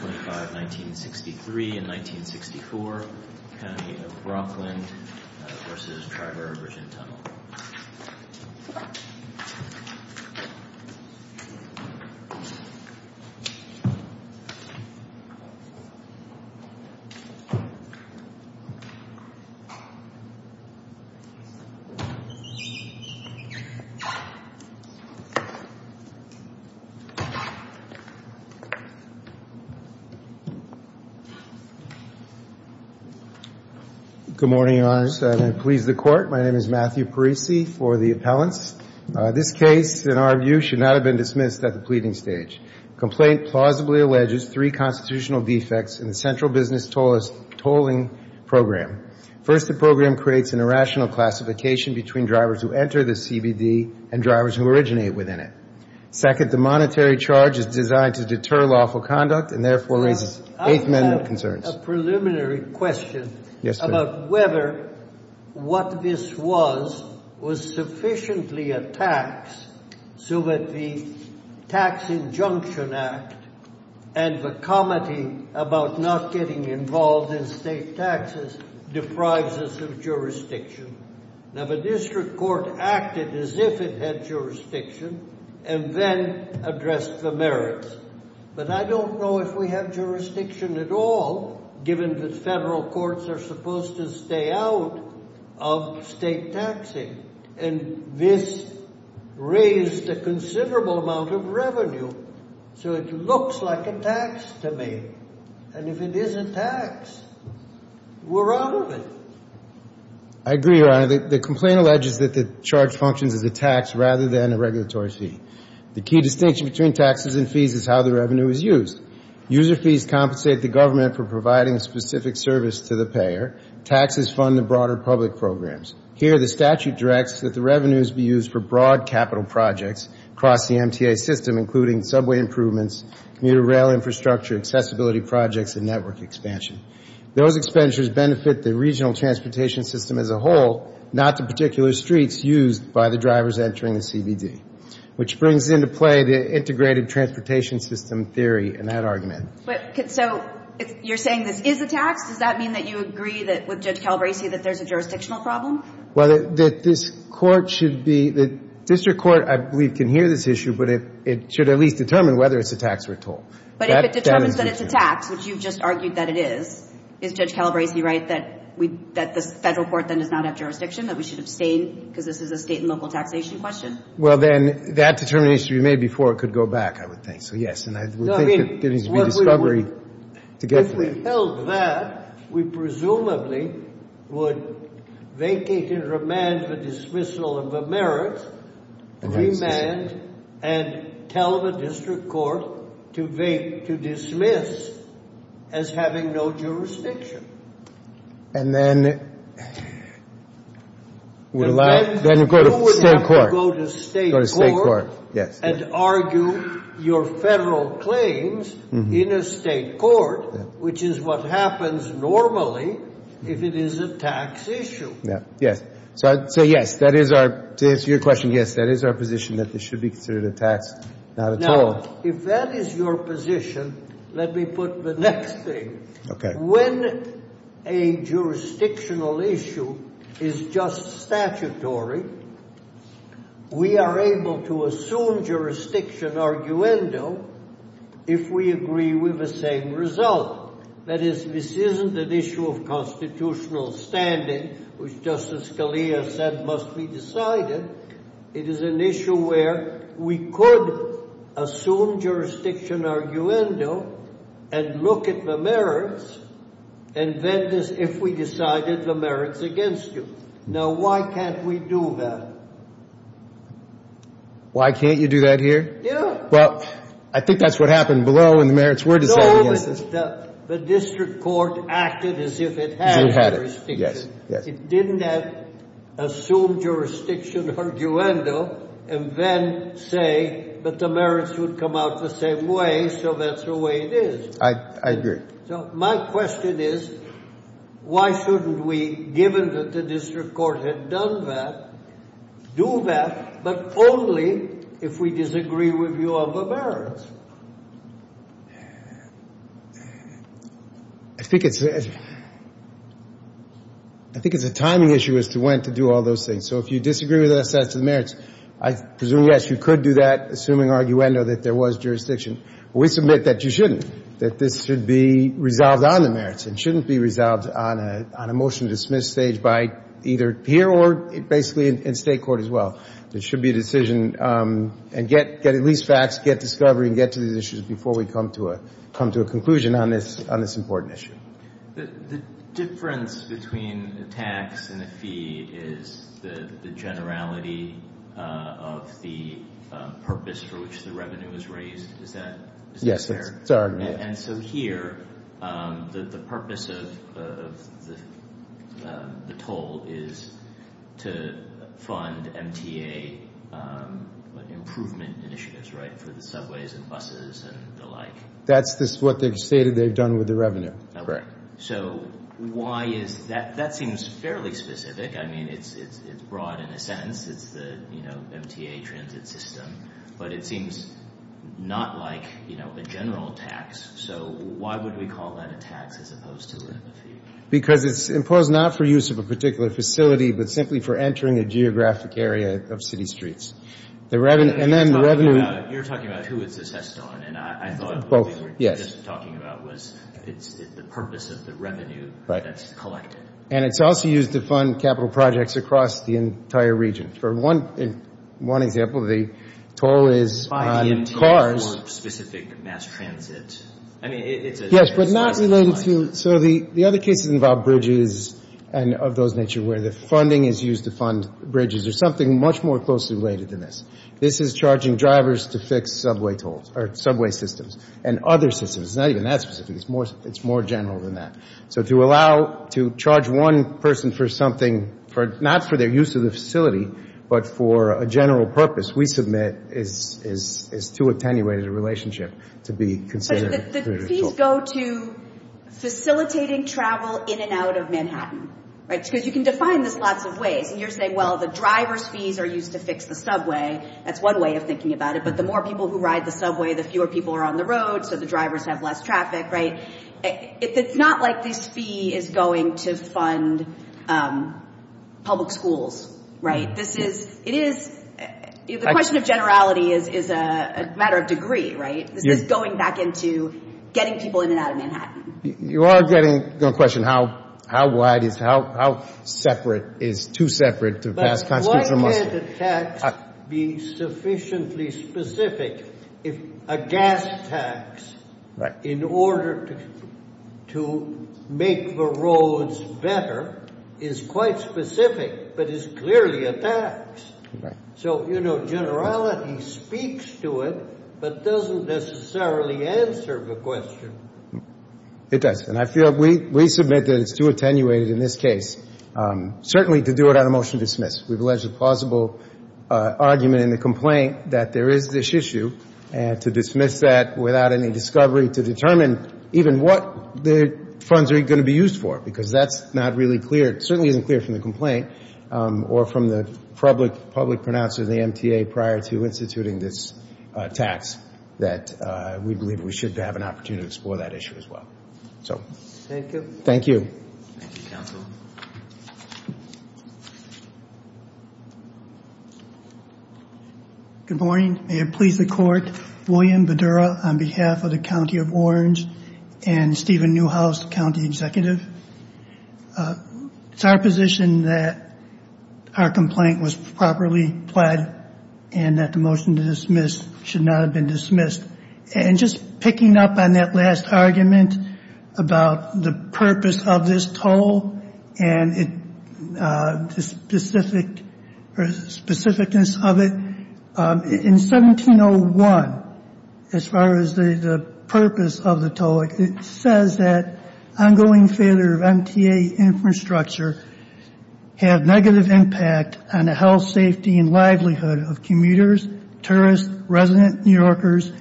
25, 1963 and 1964, County of Rockland v. Triborough Bridge and Tunnel. Good morning, Your Honors. I'm going to please the Court. My name is Matthew Parisi for the appellants. This case, in our view, should not have been dismissed at the pleading stage. The complaint plausibly alleges three constitutional defects in the central business tolling program. First, the program creates an irrational classification between drivers who enter the CBD and drivers who originate within it. Second, the monetary charge is designed to deter lawful conduct and therefore raises eighth amendment concerns. I have a preliminary question about whether what this was was sufficiently a tax so that the Tax Injunction Act and the comity about not getting involved in state taxes deprives us of jurisdiction. Now, the district court acted as if it had jurisdiction, but I don't know if we have jurisdiction at all, given that federal courts are supposed to stay out of state taxing. And this raised a considerable amount of revenue. So it looks like a tax to me. And if it is a tax, we're out of it. I agree, Your Honor. The complaint alleges that the charge functions as a tax rather than a regulatory fee. The key distinction between taxes and fees is how the revenue is used. User fees compensate the government for providing a specific service to the payer. Taxes fund the broader public programs. Here the statute directs that the revenues be used for broad capital projects across the MTA system, including subway improvements, commuter rail infrastructure, accessibility projects and network expansion. Those expenditures benefit the regional transportation system as a whole, not the particular streets used by the drivers entering the CBD, which brings into play the integrated transportation system theory in that argument. But so you're saying this is a tax? Does that mean that you agree with Judge Calabresi that there's a jurisdictional problem? Well, that this court should be the district court, I believe, can hear this issue, but it should at least determine whether it's a tax or a toll. But if it determines that it's a tax, which you've just argued that it is, is Judge Calabresi right that the federal court then does not have jurisdiction, that we should abstain because this is a state and local taxation question? Well, then that determination should be made before it could go back, I would think. So, yes. And I think there needs to be discovery to get to that. If we held that, we presumably would vacate and remand the dismissal of the merits, remand and tell the district court to dismiss as well, then you would have to go to state court and argue your federal claims in a state court, which is what happens normally if it is a tax issue. Yes. So, yes, that is our, to answer your question, yes, that is our position that this should be considered a tax, not a toll. Now, if that is your position, let me put the next thing. When a jurisdiction is not a tax, it is not a toll. When a jurisdictional issue is just statutory, we are able to assume jurisdiction arguendo if we agree with the same result. That is, this isn't an issue of constitutional standing, which Justice Scalia said must be decided. It is an issue where we could assume jurisdiction arguendo and look at the merits, and then if we decide that it is a tax, then we can assume jurisdiction arguendo and then say that the merits would come out the same way, so that is the way it is. I agree. So my question is, why shouldn't we, given that the district court had done that, do that, but only if we disagree with you on the merits? I think it is a timing issue as to when to do all those things. So if you disagree with us as to the merits, I presume, yes, you could do that, assuming arguendo that there was jurisdiction. We submit that you shouldn't, that this should be resolved on the merits. It shouldn't be resolved on a motion to dismiss stage by either here or basically in State court as well. There should be a decision, and get at least facts, get discovery, and get to the issues before we come to a conclusion on this important issue. I'm just curious about the purpose for which the revenue is raised. Is that fair? Yes, it is our argument. And so here, the purpose of the toll is to fund MTA improvement initiatives, right, for the subways and buses and the like? That is what they have stated they have done with the revenue. So why is that? That seems fairly specific. I mean, it is broad in a sense. It is the MTA transit system. But it seems not like a general tax. So why would we call that a tax as opposed to a fee? Because it is imposed not for use of a particular facility, but simply for entering a geographic area of city streets. You are talking about who it is assessed on, and I thought what we were just talking about was the purpose of the revenue. And it is also used to fund capital projects across the entire region. For one example, the toll is on cars. Yes, but not related to, so the other cases involve bridges and of those nature where the funding is used to fund bridges. There is something much more closely related to this. This is charging drivers to fix subway tolls, or subway systems, and other things. So to allow, to charge one person for something, not for their use of the facility, but for a general purpose we submit is too attenuated a relationship to be considered. The fees go to facilitating travel in and out of Manhattan, right, because you can define this lots of ways. And you are saying, well, the driver's fees are used to fix the subway. That is one way of thinking about it, but the more people who ride the subway, the fewer people are on the road, so the drivers have less traffic, right? It is not like this fee is going to fund public schools, right? This is, it is, the question of generality is a matter of degree, right? This is going back into getting people in and out of Manhattan. You are going to question how wide, how separate, is too separate to pass constitutional muster. But why can't the tax be sufficiently specific, a gas tax, in order to get people in and out of Manhattan? To make the roads better is quite specific, but is clearly a tax. So, you know, generality speaks to it, but doesn't necessarily answer the question. It does, and I feel we submit that it is too attenuated in this case, certainly to do it on a motion to dismiss. We have alleged a plausible argument in the complaint that there is this issue, and to dismiss that without any explanation of what the funds are going to be used for, because that is not really clear. It certainly isn't clear from the complaint, or from the public pronouncer of the MTA prior to instituting this tax, that we believe we should have an opportunity to explore that issue as well. Thank you. Good morning. May it please the Court. I'm David Newhouse, county executive. It's our position that our complaint was properly pled, and that the motion to dismiss should not have been dismissed. And just picking up on that last argument about the purpose of this toll, and the specificness of it, in 1701, as far as the purpose of the toll, it says that the purpose of the toll is to show that ongoing failure of MTA infrastructure have negative impact on the health, safety, and livelihood of commuters, tourists, resident New Yorkers,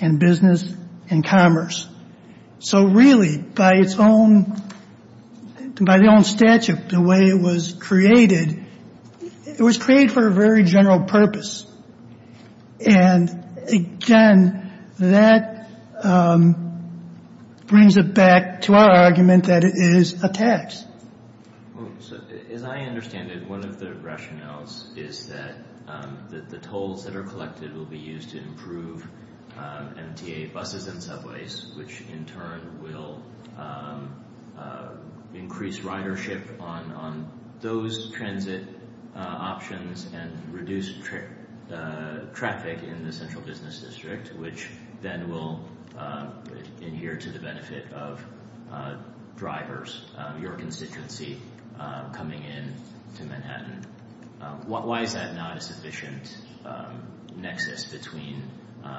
and business and commerce. So really, by its own, by the own statute, the way it was created, it was created for a very general purpose. And, again, that brings it back to the question of the purpose of the toll. It brings it back to our argument that it is a tax. As I understand it, one of the rationales is that the tolls that are collected will be used to improve MTA buses and subways, which in turn will increase ridership on those transit options and reduce traffic in the central business district, which then will adhere to the benefit of drivers, your constituency coming in to Manhattan. Why is that not a sufficient nexus between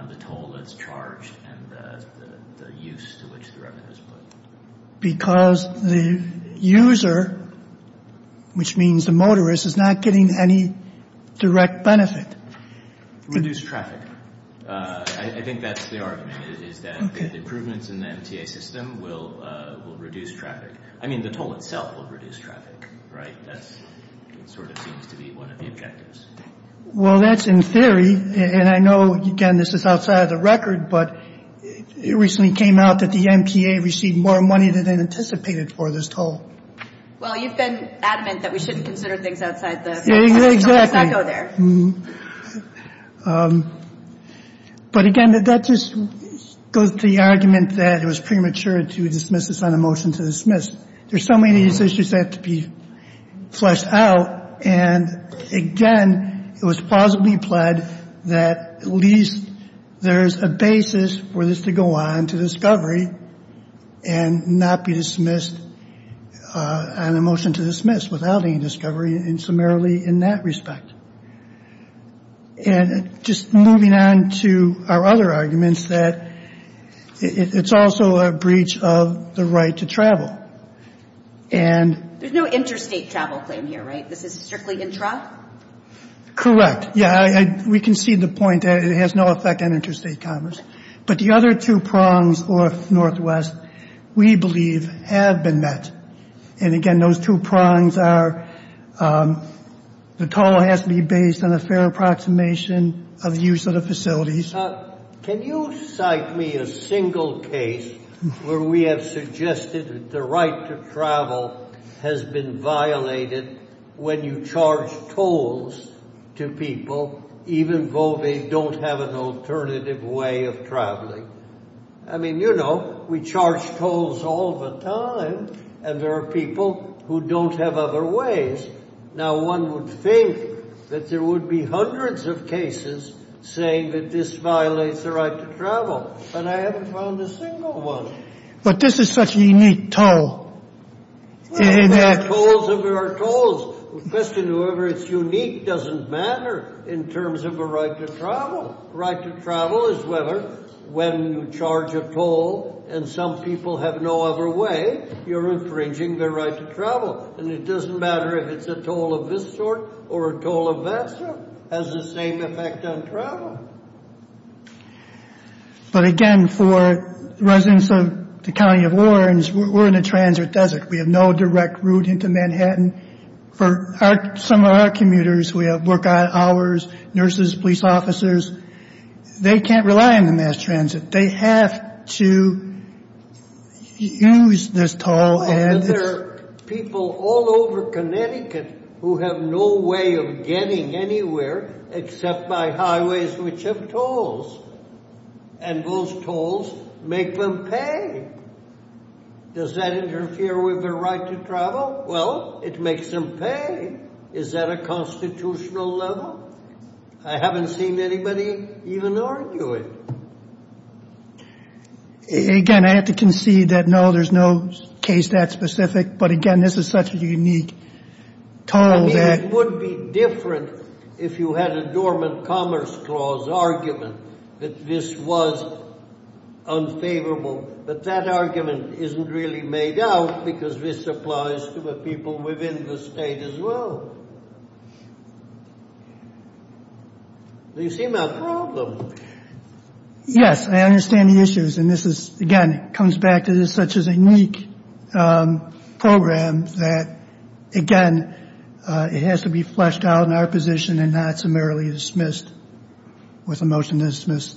the toll that's charged and the use to which the revenue is put? Because the user, which means the motorist, is not getting any direct benefit. Reduce traffic. I think that's the argument, is that improvements in the MTA system will reduce traffic. I mean, the toll itself will reduce traffic, right? That sort of seems to be one of the objectives. Well, that's in theory, and I know, again, this is outside of the record, but it recently came out that the MTA received more money than anticipated for this toll. Well, you've been adamant that we shouldn't consider things outside the scope of the SECO there. But, again, that just goes to the argument that it was premature to dismiss this on a motion to dismiss. There's so many of these issues that have to be fleshed out, and, again, it was plausibly implied that at least there's a basis for this to go on to discovery and not be dismissed as a motion to dismiss. Without any discovery, and summarily in that respect. And just moving on to our other arguments, that it's also a breach of the right to travel. And... There's no interstate travel claim here, right? This is strictly intra? Correct. Yeah, we concede the point that it has no effect on interstate commerce. But the other two prongs, north-northwest, we believe have been met. And, again, those two prongs are the toll has to be based on a fair approximation of the use of the facilities. Can you cite me a single case where we have suggested that the right to travel has been violated when you charge tolls to people even though they don't have an alternative way of traveling? I mean, you know, we charge tolls all the time, and there are people who don't have other ways. Now, one would think that there would be hundreds of cases saying that this violates the right to travel, but I haven't found a single one. But this is such a unique toll. The question of whether it's unique doesn't matter in terms of the right to travel. The right to travel is whether, when you charge a toll and some people have no other way, you're infringing their right to travel. And it doesn't matter if it's a toll of this sort or a toll of that sort. It has the same effect on travel. The county of Lawrence, we're in a transit desert. We have no direct route into Manhattan. For some of our commuters, we have work hours, nurses, police officers. They can't rely on the mass transit. They have to use this toll. Well, then there are people all over Connecticut who have no way of getting anywhere except by highways which have tolls, and those tolls make them pay. Does that interfere with their right to travel? Well, it makes them pay. Is that a constitutional level? I haven't seen anybody even argue it. Again, I have to concede that, no, there's no case that specific, but again, this is such a unique toll that... I mean, it would be different if you had a dormant commerce clause argument that this was unfavorable, but that argument isn't really made out because this applies to the people within the state as well. Do you see my problem? Yes, I understand the issues, and this is, again, comes back to this such as a unique program that, again, it has to be fleshed out in our position and not summarily dismissed with a motion to dismiss.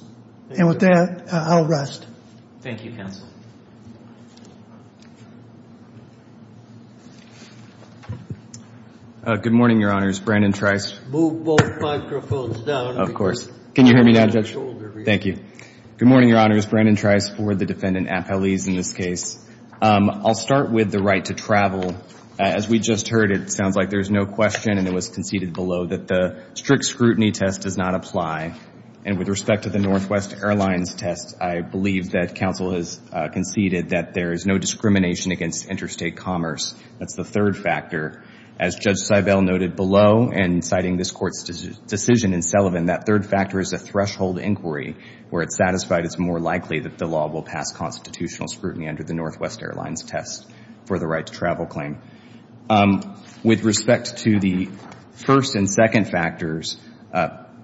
And with that, I'll rest. Good morning, Your Honors. Brandon Trice for the Defendant Appellees in this case. I'll start with the right to travel. As we just heard, it sounds like there's no question, and it was conceded below, that the strict scrutiny test does not apply, and with respect to the Northwest Airlines test, I believe that counsel has conceded that there is no discrimination against interstate commerce. That's the third factor. As Judge Seibel noted below, and citing this Court's decision in Sullivan, that third factor is a threshold inquiry where it's satisfied it's more likely that the law will pass constitutional scrutiny under the Northwest Airlines test for the right to travel claim. With respect to the first and second factors,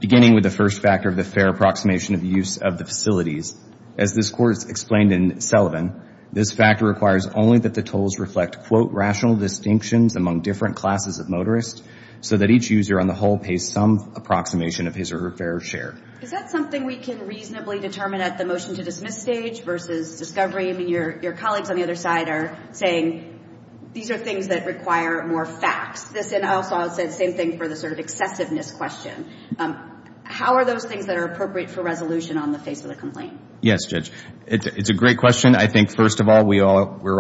beginning with the first factor of the fair approximation of use of the facilities, as this Court has explained in Sullivan, this factor requires only that the tolls reflect, quote, rational distinctions among different classes of motorists so that each user on the whole pays some approximation of his or her fair share. Is that something we can reasonably determine at the motion to dismiss stage versus discovery? I mean, your colleagues on the other side are saying these are things that require more facts. I also said the same thing for the sort of excessiveness question. How are those things that are appropriate for resolution on the face of the complaint? Yes, Judge. It's a great question. I think, first of all, we're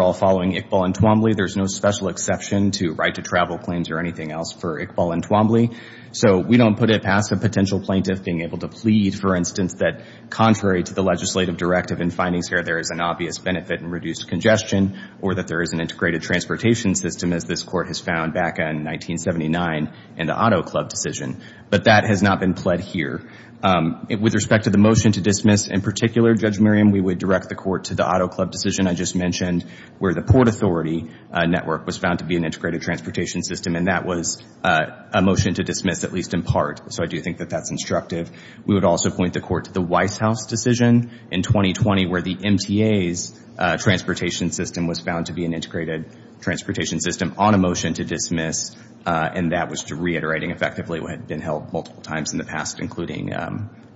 all following Iqbal and Twombly. There's no special exception to right to travel claims or anything else for Iqbal and Twombly. So we don't put it past a potential plaintiff being able to plead, for instance, that contrary to the legislative directive in findings here, there is an obvious benefit in reduced congestion or that there is an integrated transportation system, as this Court has found back in 1979 in the Auto Club decision. But that has not been pled here. With respect to the motion to dismiss in particular, Judge Miriam, we would direct the Court to the Auto Club decision I just mentioned, where the Port Authority network was found to be an integrated transportation system. And that was a motion to dismiss, at least in part. So I do think that that's instructive. We would also point the Court to the Weisshaus decision in 2020, where the MTA's transportation system was found to be an integrated transportation system on a motion to dismiss, and that was reiterating effectively what had been held multiple times in the past, including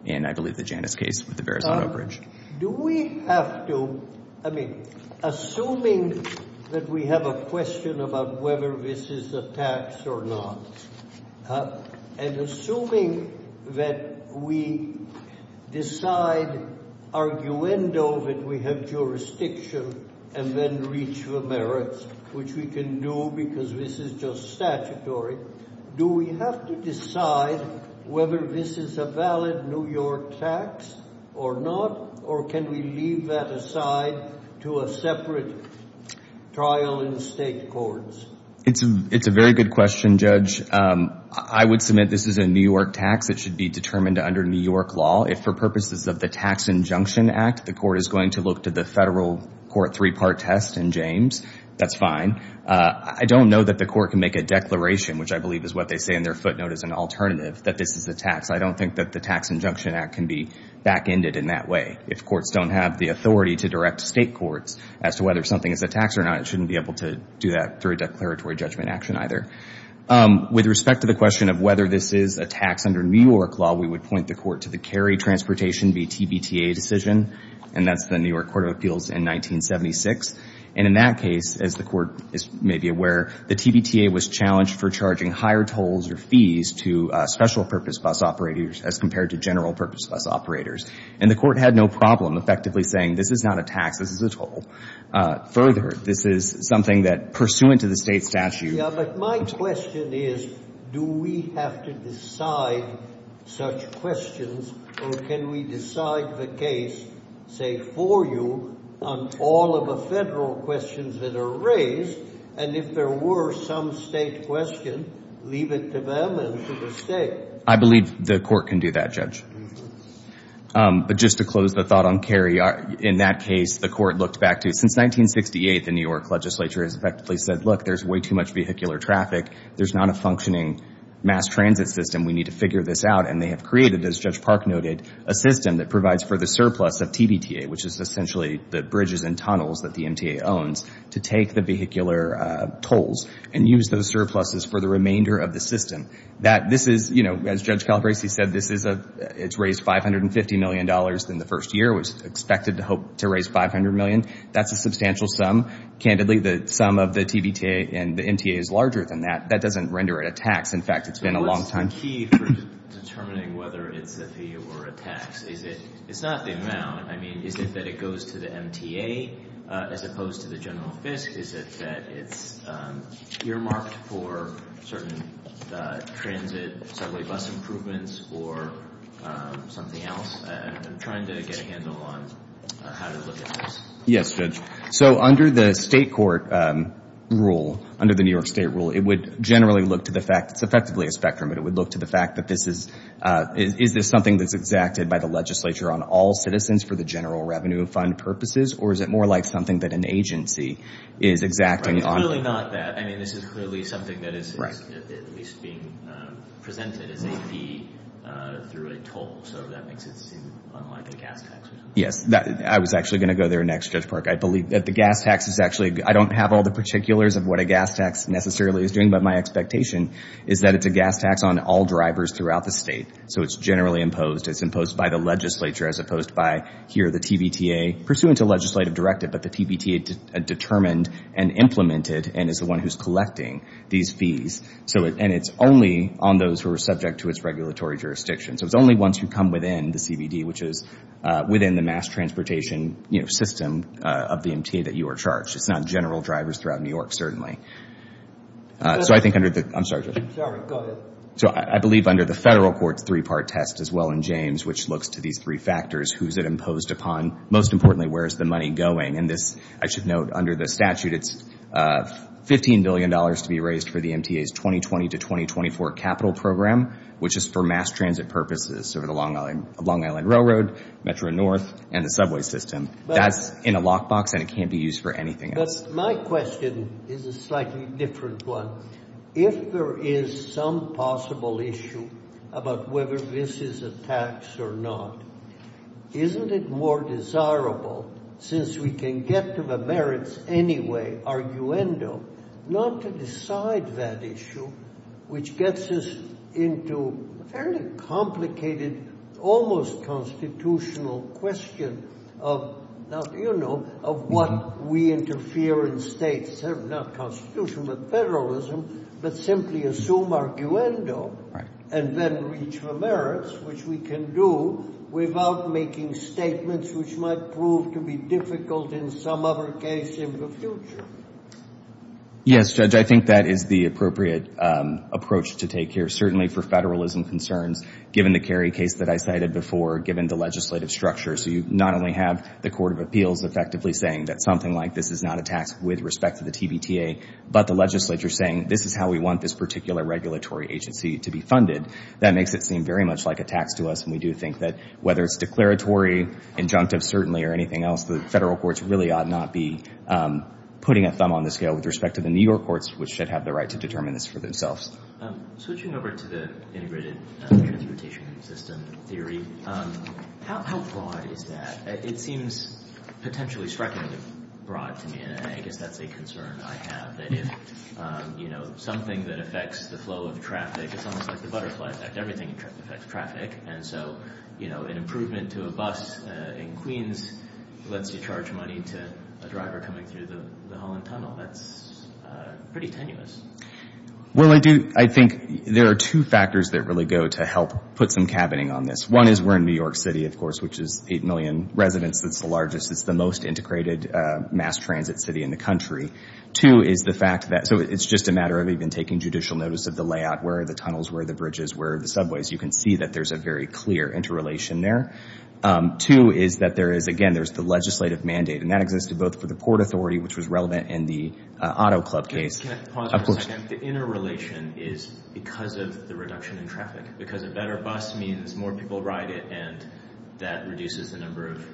in, I believe, the Janus case with the Verrazano Bridge. Do we have to, I mean, assuming that we have a question about whether this is a tax or not, and assuming that we decide, arguendo, that we have jurisdiction and then reach the merits, which we can do because this is just statutory, do we have to decide whether this is a valid New York tax or not, or can we leave that aside to a separate trial in state courts? It's a very good question, Judge. I would submit this is a New York tax. It should be determined under New York law. If, for purposes of the Tax Injunction Act, the Court is going to look to the federal court three-part test in James, that's fine. I don't know that the Court can make a declaration, which I believe is what they say in their footnote as an alternative, that this is a tax. I don't think that the Tax Injunction Act can be back-ended in that way. If courts don't have the authority to direct state courts as to whether something is a tax or not, it shouldn't be able to do that through a declaratory judgment action either. With respect to the question of whether this is a tax under New York law, we would point the Court to the Cary Transportation v. TBTA decision, and that's the New York Court of Appeals in 1976. And in that case, as the Court may be aware, the TBTA was challenged for charging higher tolls or fees to special-purpose bus operators as compared to general-purpose bus operators. And the Court had no problem effectively saying, this is not a tax, this is a toll. Further, this is something that, pursuant to the state statute — Yeah, but my question is, do we have to decide such questions, or can we decide the case, say, for you on all of the federal questions that are raised, and if there were some state question, leave it to them and to the state? I believe the Court can do that, Judge. But just to close the thought on Cary, in that case, the Court looked back to — since 1968, the New York legislature has effectively said, look, there's way too much vehicular traffic, there's not a functioning mass transit system, we need to figure this out. And they have created, as Judge Park noted, a system that provides for the surplus of TBTA, which is essentially the bridges and tunnels that the MTA owns, to take the vehicular tolls and use those surpluses for the remainder of the system. This is, as Judge Calabresi said, it's raised $550 million in the first year. It was expected to raise $500 million. That's a substantial sum. Candidly, the sum of the TBTA and the MTA is larger than that. That doesn't render it a tax. In fact, it's been a long time. But what's the key for determining whether it's a fee or a tax? Is it — it's not the amount. I mean, is it that it goes to the MTA as opposed to the general FISC? Is it that it's earmarked for certain transit subway bus improvements or something else? I'm trying to get a handle on how to look at this. Yes, Judge. So under the state court rule, under the New York State rule, it would generally look to the fact — it's effectively a spectrum, but it would look to the fact that this is — is this something that's exacted by the legislature on all citizens for the general revenue fund purposes? Or is it more like something that an agency is exacting on — Clearly not that. I mean, this is clearly something that is at least being presented as a fee through a toll. So that makes it seem unlike a gas tax. Yes. I was actually going to go there next, Judge Park. I believe that the gas tax is actually — I don't have all the particulars of what a gas tax necessarily is doing, but my expectation is that it's a gas tax on all drivers throughout the state. So it's generally imposed. It's imposed by the legislature as opposed by, here, the TBTA, pursuant to legislative directive, but the TBTA determined and implemented and is the one who's collecting these fees. And it's only on those who are subject to its regulatory jurisdiction. So it's only ones who come within the CBD, which is within the mass transportation system of the MTA that you are charged. It's not general drivers throughout New York, certainly. So I think under the — I'm sorry, Judge. Sorry. Go ahead. So I believe under the federal court's three-part test as well in James, which looks to these three factors, who is it imposed upon? Most importantly, where is the money going? And this, I should note, under the statute, it's $15 billion to be raised for the MTA's 2020 to 2024 capital program, which is for mass transit purposes over the Long Island Railroad, Metro North, and the subway system. That's in a lockbox, and it can't be used for anything else. But my question is a slightly different one. If there is some possible issue about whether this is a tax or not, isn't it more desirable, since we can get to the merits anyway, arguendo, not to decide that issue, which gets us into a fairly complicated, almost constitutional question of, now, do you know, of what we interfere in states, not constitution, but federalism, but simply assume arguendo and then reach for merits, which we can do without making statements which might prove to be difficult in some other case in the future? Yes, Judge, I think that is the appropriate approach to take here, certainly for federalism concerns, given the Kerry case that I cited before, given the legislative structure. So you not only have the Court of Appeals effectively saying that something like this is not a tax with respect to the TBTA, but the legislature saying this is how we want this particular regulatory agency to be funded. That makes it seem very much like a tax to us, and we do think that whether it's declaratory, injunctive certainly, or anything else, the federal courts really ought not be putting a thumb on the scale with respect to the New York courts, which should have the right to determine this for themselves. Switching over to the integrated transportation system theory, how broad is that? It seems potentially strikingly broad to me, and I guess that's a concern I have, that if, you know, something that affects the flow of traffic, it's almost like the butterfly effect, everything affects traffic, and so, you know, an improvement to a bus in Queens lets you charge money to a driver coming through the Holland Tunnel. That's pretty tenuous. Well, I do, I think there are two factors that really go to help put some cabining on this. One is we're in New York City, of course, which is 8 million residents. It's the largest, it's the most integrated mass transit city in the country. Two is the fact that, so it's just a matter of even taking judicial notice of the layout, where are the tunnels, where are the bridges, where are the subways. You can see that there's a very clear interrelation there. Two is that there is, again, there's the legislative mandate, and that existed both for the Port Authority, which was relevant in the Auto Club case, Can I pause for a second? The interrelation is because of the reduction in traffic, because a better bus means more people ride it, and that reduces the number of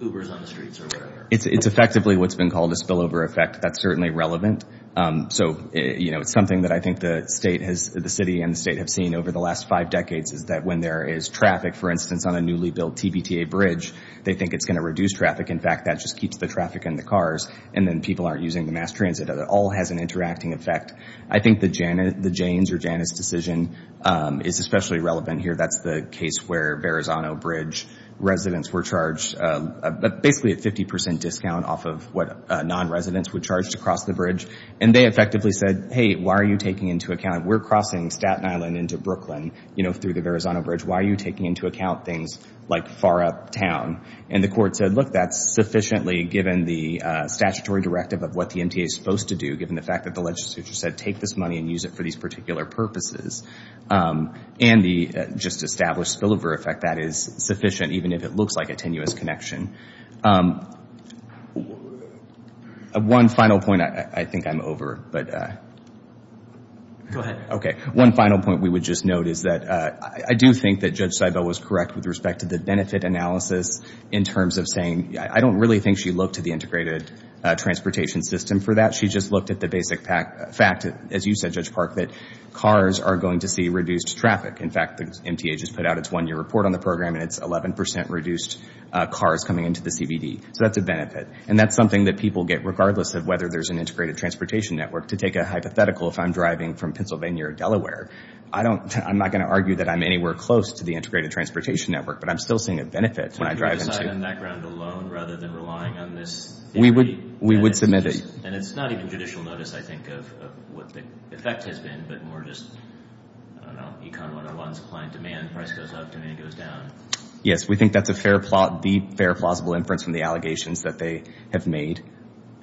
Ubers on the streets or whatever. It's effectively what's been called a spillover effect. That's certainly relevant. So, you know, it's something that I think the city and the state have seen over the last five decades is that when there is traffic, for instance, on a newly built TBTA bridge, they think it's going to reduce traffic. In fact, that just keeps the traffic in the cars, and then people aren't using the mass transit. It all has an interacting effect. I think the Janus decision is especially relevant here. That's the case where Verrazano Bridge residents were charged basically a 50% discount off of what non-residents were charged to cross the bridge, and they effectively said, hey, why are you taking into account, we're crossing Staten Island into Brooklyn, you know, through the Verrazano Bridge, why are you taking into account things like far uptown? And the court said, look, that's sufficiently, given the statutory directive of what the MTA is supposed to do, given the fact that the legislature said take this money and use it for these particular purposes, and the just established spillover effect, that is sufficient, even if it looks like a tenuous connection. One final point. I think I'm over, but... Go ahead. Okay. One final point we would just note is that I do think that Judge Seibel was correct with respect to the benefit analysis in terms of saying, I don't really think she looked at the integrated transportation system for that. She just looked at the basic fact, as you said, Judge Park, that cars are going to see reduced traffic. In fact, the MTA just put out its one-year report on the program, and it's 11% reduced cars coming into the CBD. So that's a benefit, and that's something that people get, regardless of whether there's an integrated transportation network. To take a hypothetical, if I'm driving from Pennsylvania or Delaware, I'm not going to argue that I'm anywhere close to the integrated transportation network, but I'm still seeing a benefit when I drive into... Would you decide on that ground alone rather than relying on this theory? We would submit it. And it's not even judicial notice, I think, of what the effect has been, but more just, I don't know, econ 101, supply and demand, price goes up, demand goes down. Yes. We think that's the fair plausible inference from the allegations that they have made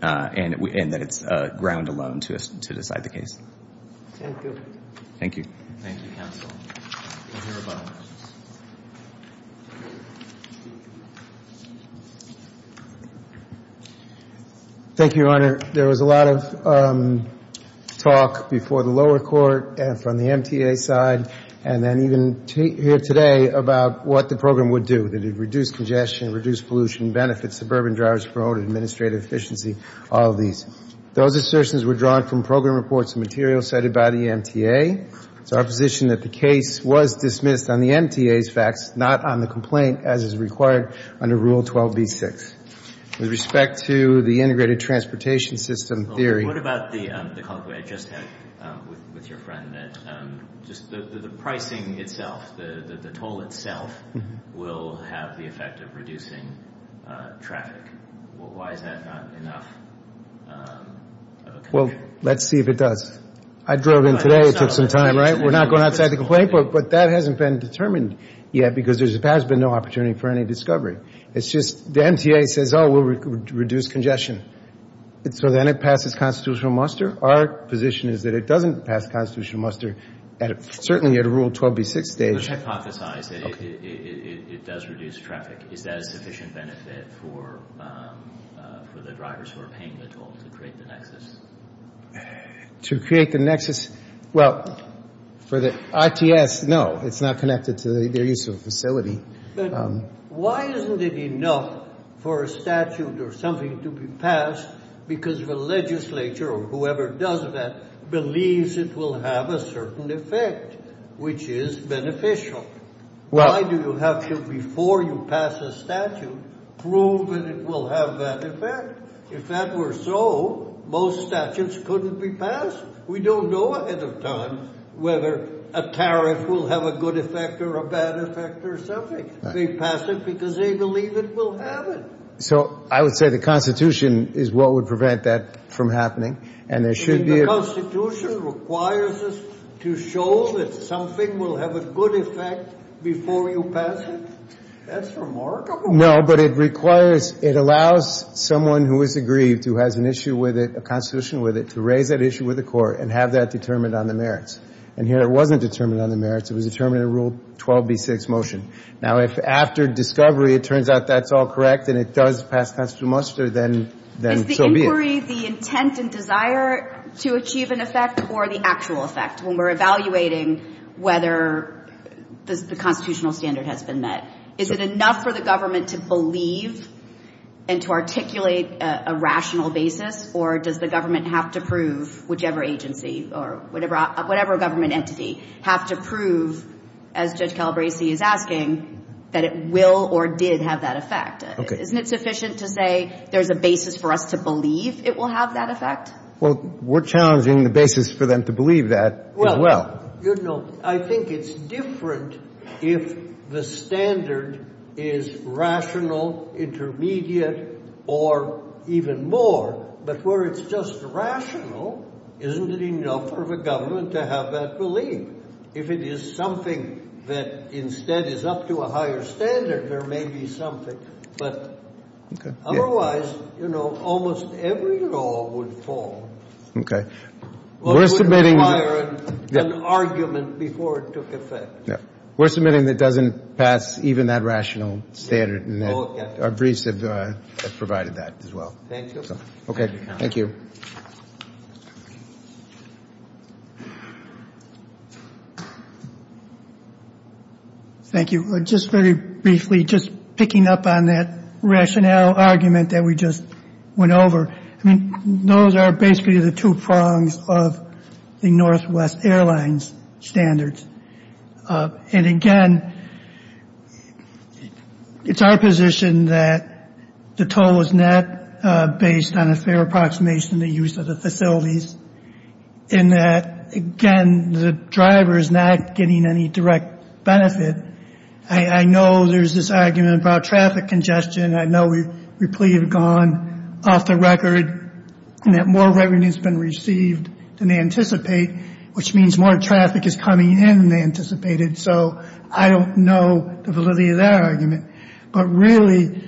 and that it's ground alone to decide the case. Thank you. Thank you. Thank you, counsel. We'll hear about it. Thank you, Your Honor. There was a lot of talk before the lower court and from the MTA side and then even here today about what the program would do. It would reduce congestion, reduce pollution, benefit suburban drivers, promote administrative efficiency, all of these. Those assertions were drawn from program reports and materials cited by the MTA. It's our position that the case was dismissed on the MTA's facts, not on the complaint as is required under Rule 12b-6. With respect to the integrated transportation system theory... What about the comment I just had with your friend that just the pricing itself, the toll itself will have the effect of reducing traffic? Why is that not enough? Well, let's see if it does. I drove in today. It took some time, right? We're not going outside the complaint, but that hasn't been determined yet because there has been no opportunity for any discovery. It's just the MTA says, oh, we'll reduce congestion. So then it passes constitutional muster. Our position is that it doesn't pass constitutional muster, certainly at a Rule 12b-6 stage. Let's hypothesize that it does reduce traffic. Is that a sufficient benefit for the drivers who are paying the toll to create the nexus? To create the nexus? Well, for the ITS, no. It's not connected to their use of a facility. But why isn't it enough for a statute or something to be passed because the legislature or whoever does that believes it will have a certain effect, which is beneficial? Why do you have to, before you pass a statute, prove that it will have that effect? If that were so, most statutes couldn't be passed. We don't know ahead of time whether a tariff will have a good effect or a bad effect or something. They pass it because they believe it will have it. So I would say the Constitution is what would prevent that from happening. And there should be a The Constitution requires us to show that something will have a good effect before you pass it? That's remarkable. No, but it requires, it allows someone who is aggrieved, who has an issue with it, a constitution with it, to raise that issue with the court and have that determined on the merits. And here it wasn't determined on the merits. It was determined at Rule 12b-6 motion. Now, if after discovery it turns out that's all correct and it does pass constitutional muster, then so be it. Is discovery the intent and desire to achieve an effect or the actual effect when we're evaluating whether the constitutional standard has been met? Is it enough for the government to believe and to articulate a rational basis, or does the government have to prove, whichever agency or whatever government entity, have to prove, as Judge Calabresi is asking, that it will or did have that effect? Okay. Isn't it sufficient to say there's a basis for us to believe it will have that effect? Well, we're challenging the basis for them to believe that as well. Well, you know, I think it's different if the standard is rational, intermediate, or even more. But where it's just rational, isn't it enough for the government to have that belief? If it is something that instead is up to a higher standard, there may be something. But otherwise, you know, almost every law would fall. Okay. Well, it would require an argument before it took effect. We're submitting that doesn't pass even that rational standard, and our briefs have provided that as well. Thank you. Okay. Thank you. Thank you. Thank you. Just very briefly, just picking up on that rationale argument that we just went over, I mean, those are basically the two prongs of the Northwest Airlines standards. And, again, it's our position that the toll is not based on a fair approximation of the use of the facilities, and that, again, the driver is not getting any direct benefit. I know there's this argument about traffic congestion. I know we plead it gone off the record, and that more revenue has been received than they anticipate, which means more traffic is coming in than they anticipated. So I don't know the validity of that argument. But, really,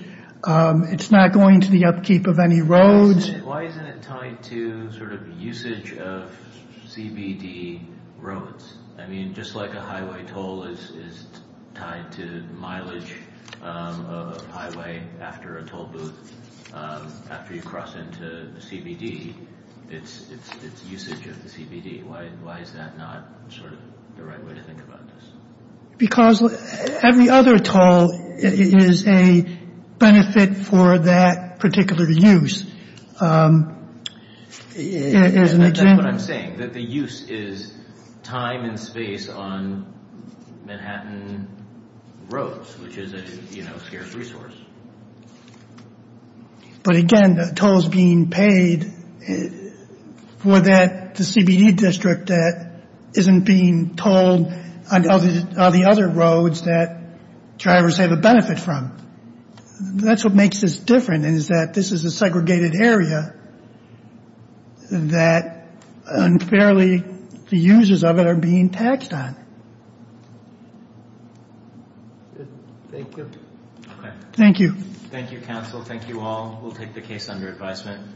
it's not going to the upkeep of any roads. Why isn't it tied to sort of usage of CBD roads? I mean, just like a highway toll is tied to mileage of a highway after a toll booth, after you cross into the CBD, it's usage of the CBD. Why is that not sort of the right way to think about this? Because every other toll is a benefit for that particular use. And that's what I'm saying, that the use is time and space on Manhattan roads, which is a, you know, scarce resource. But, again, the toll is being paid for that, the CBD district, that isn't being tolled on the other roads that drivers have a benefit from. That's what makes this different is that this is a segregated area that, unfairly, the users of it are being taxed on. Thank you. Thank you. Thank you, counsel. Thank you all. We'll take the case under advisement.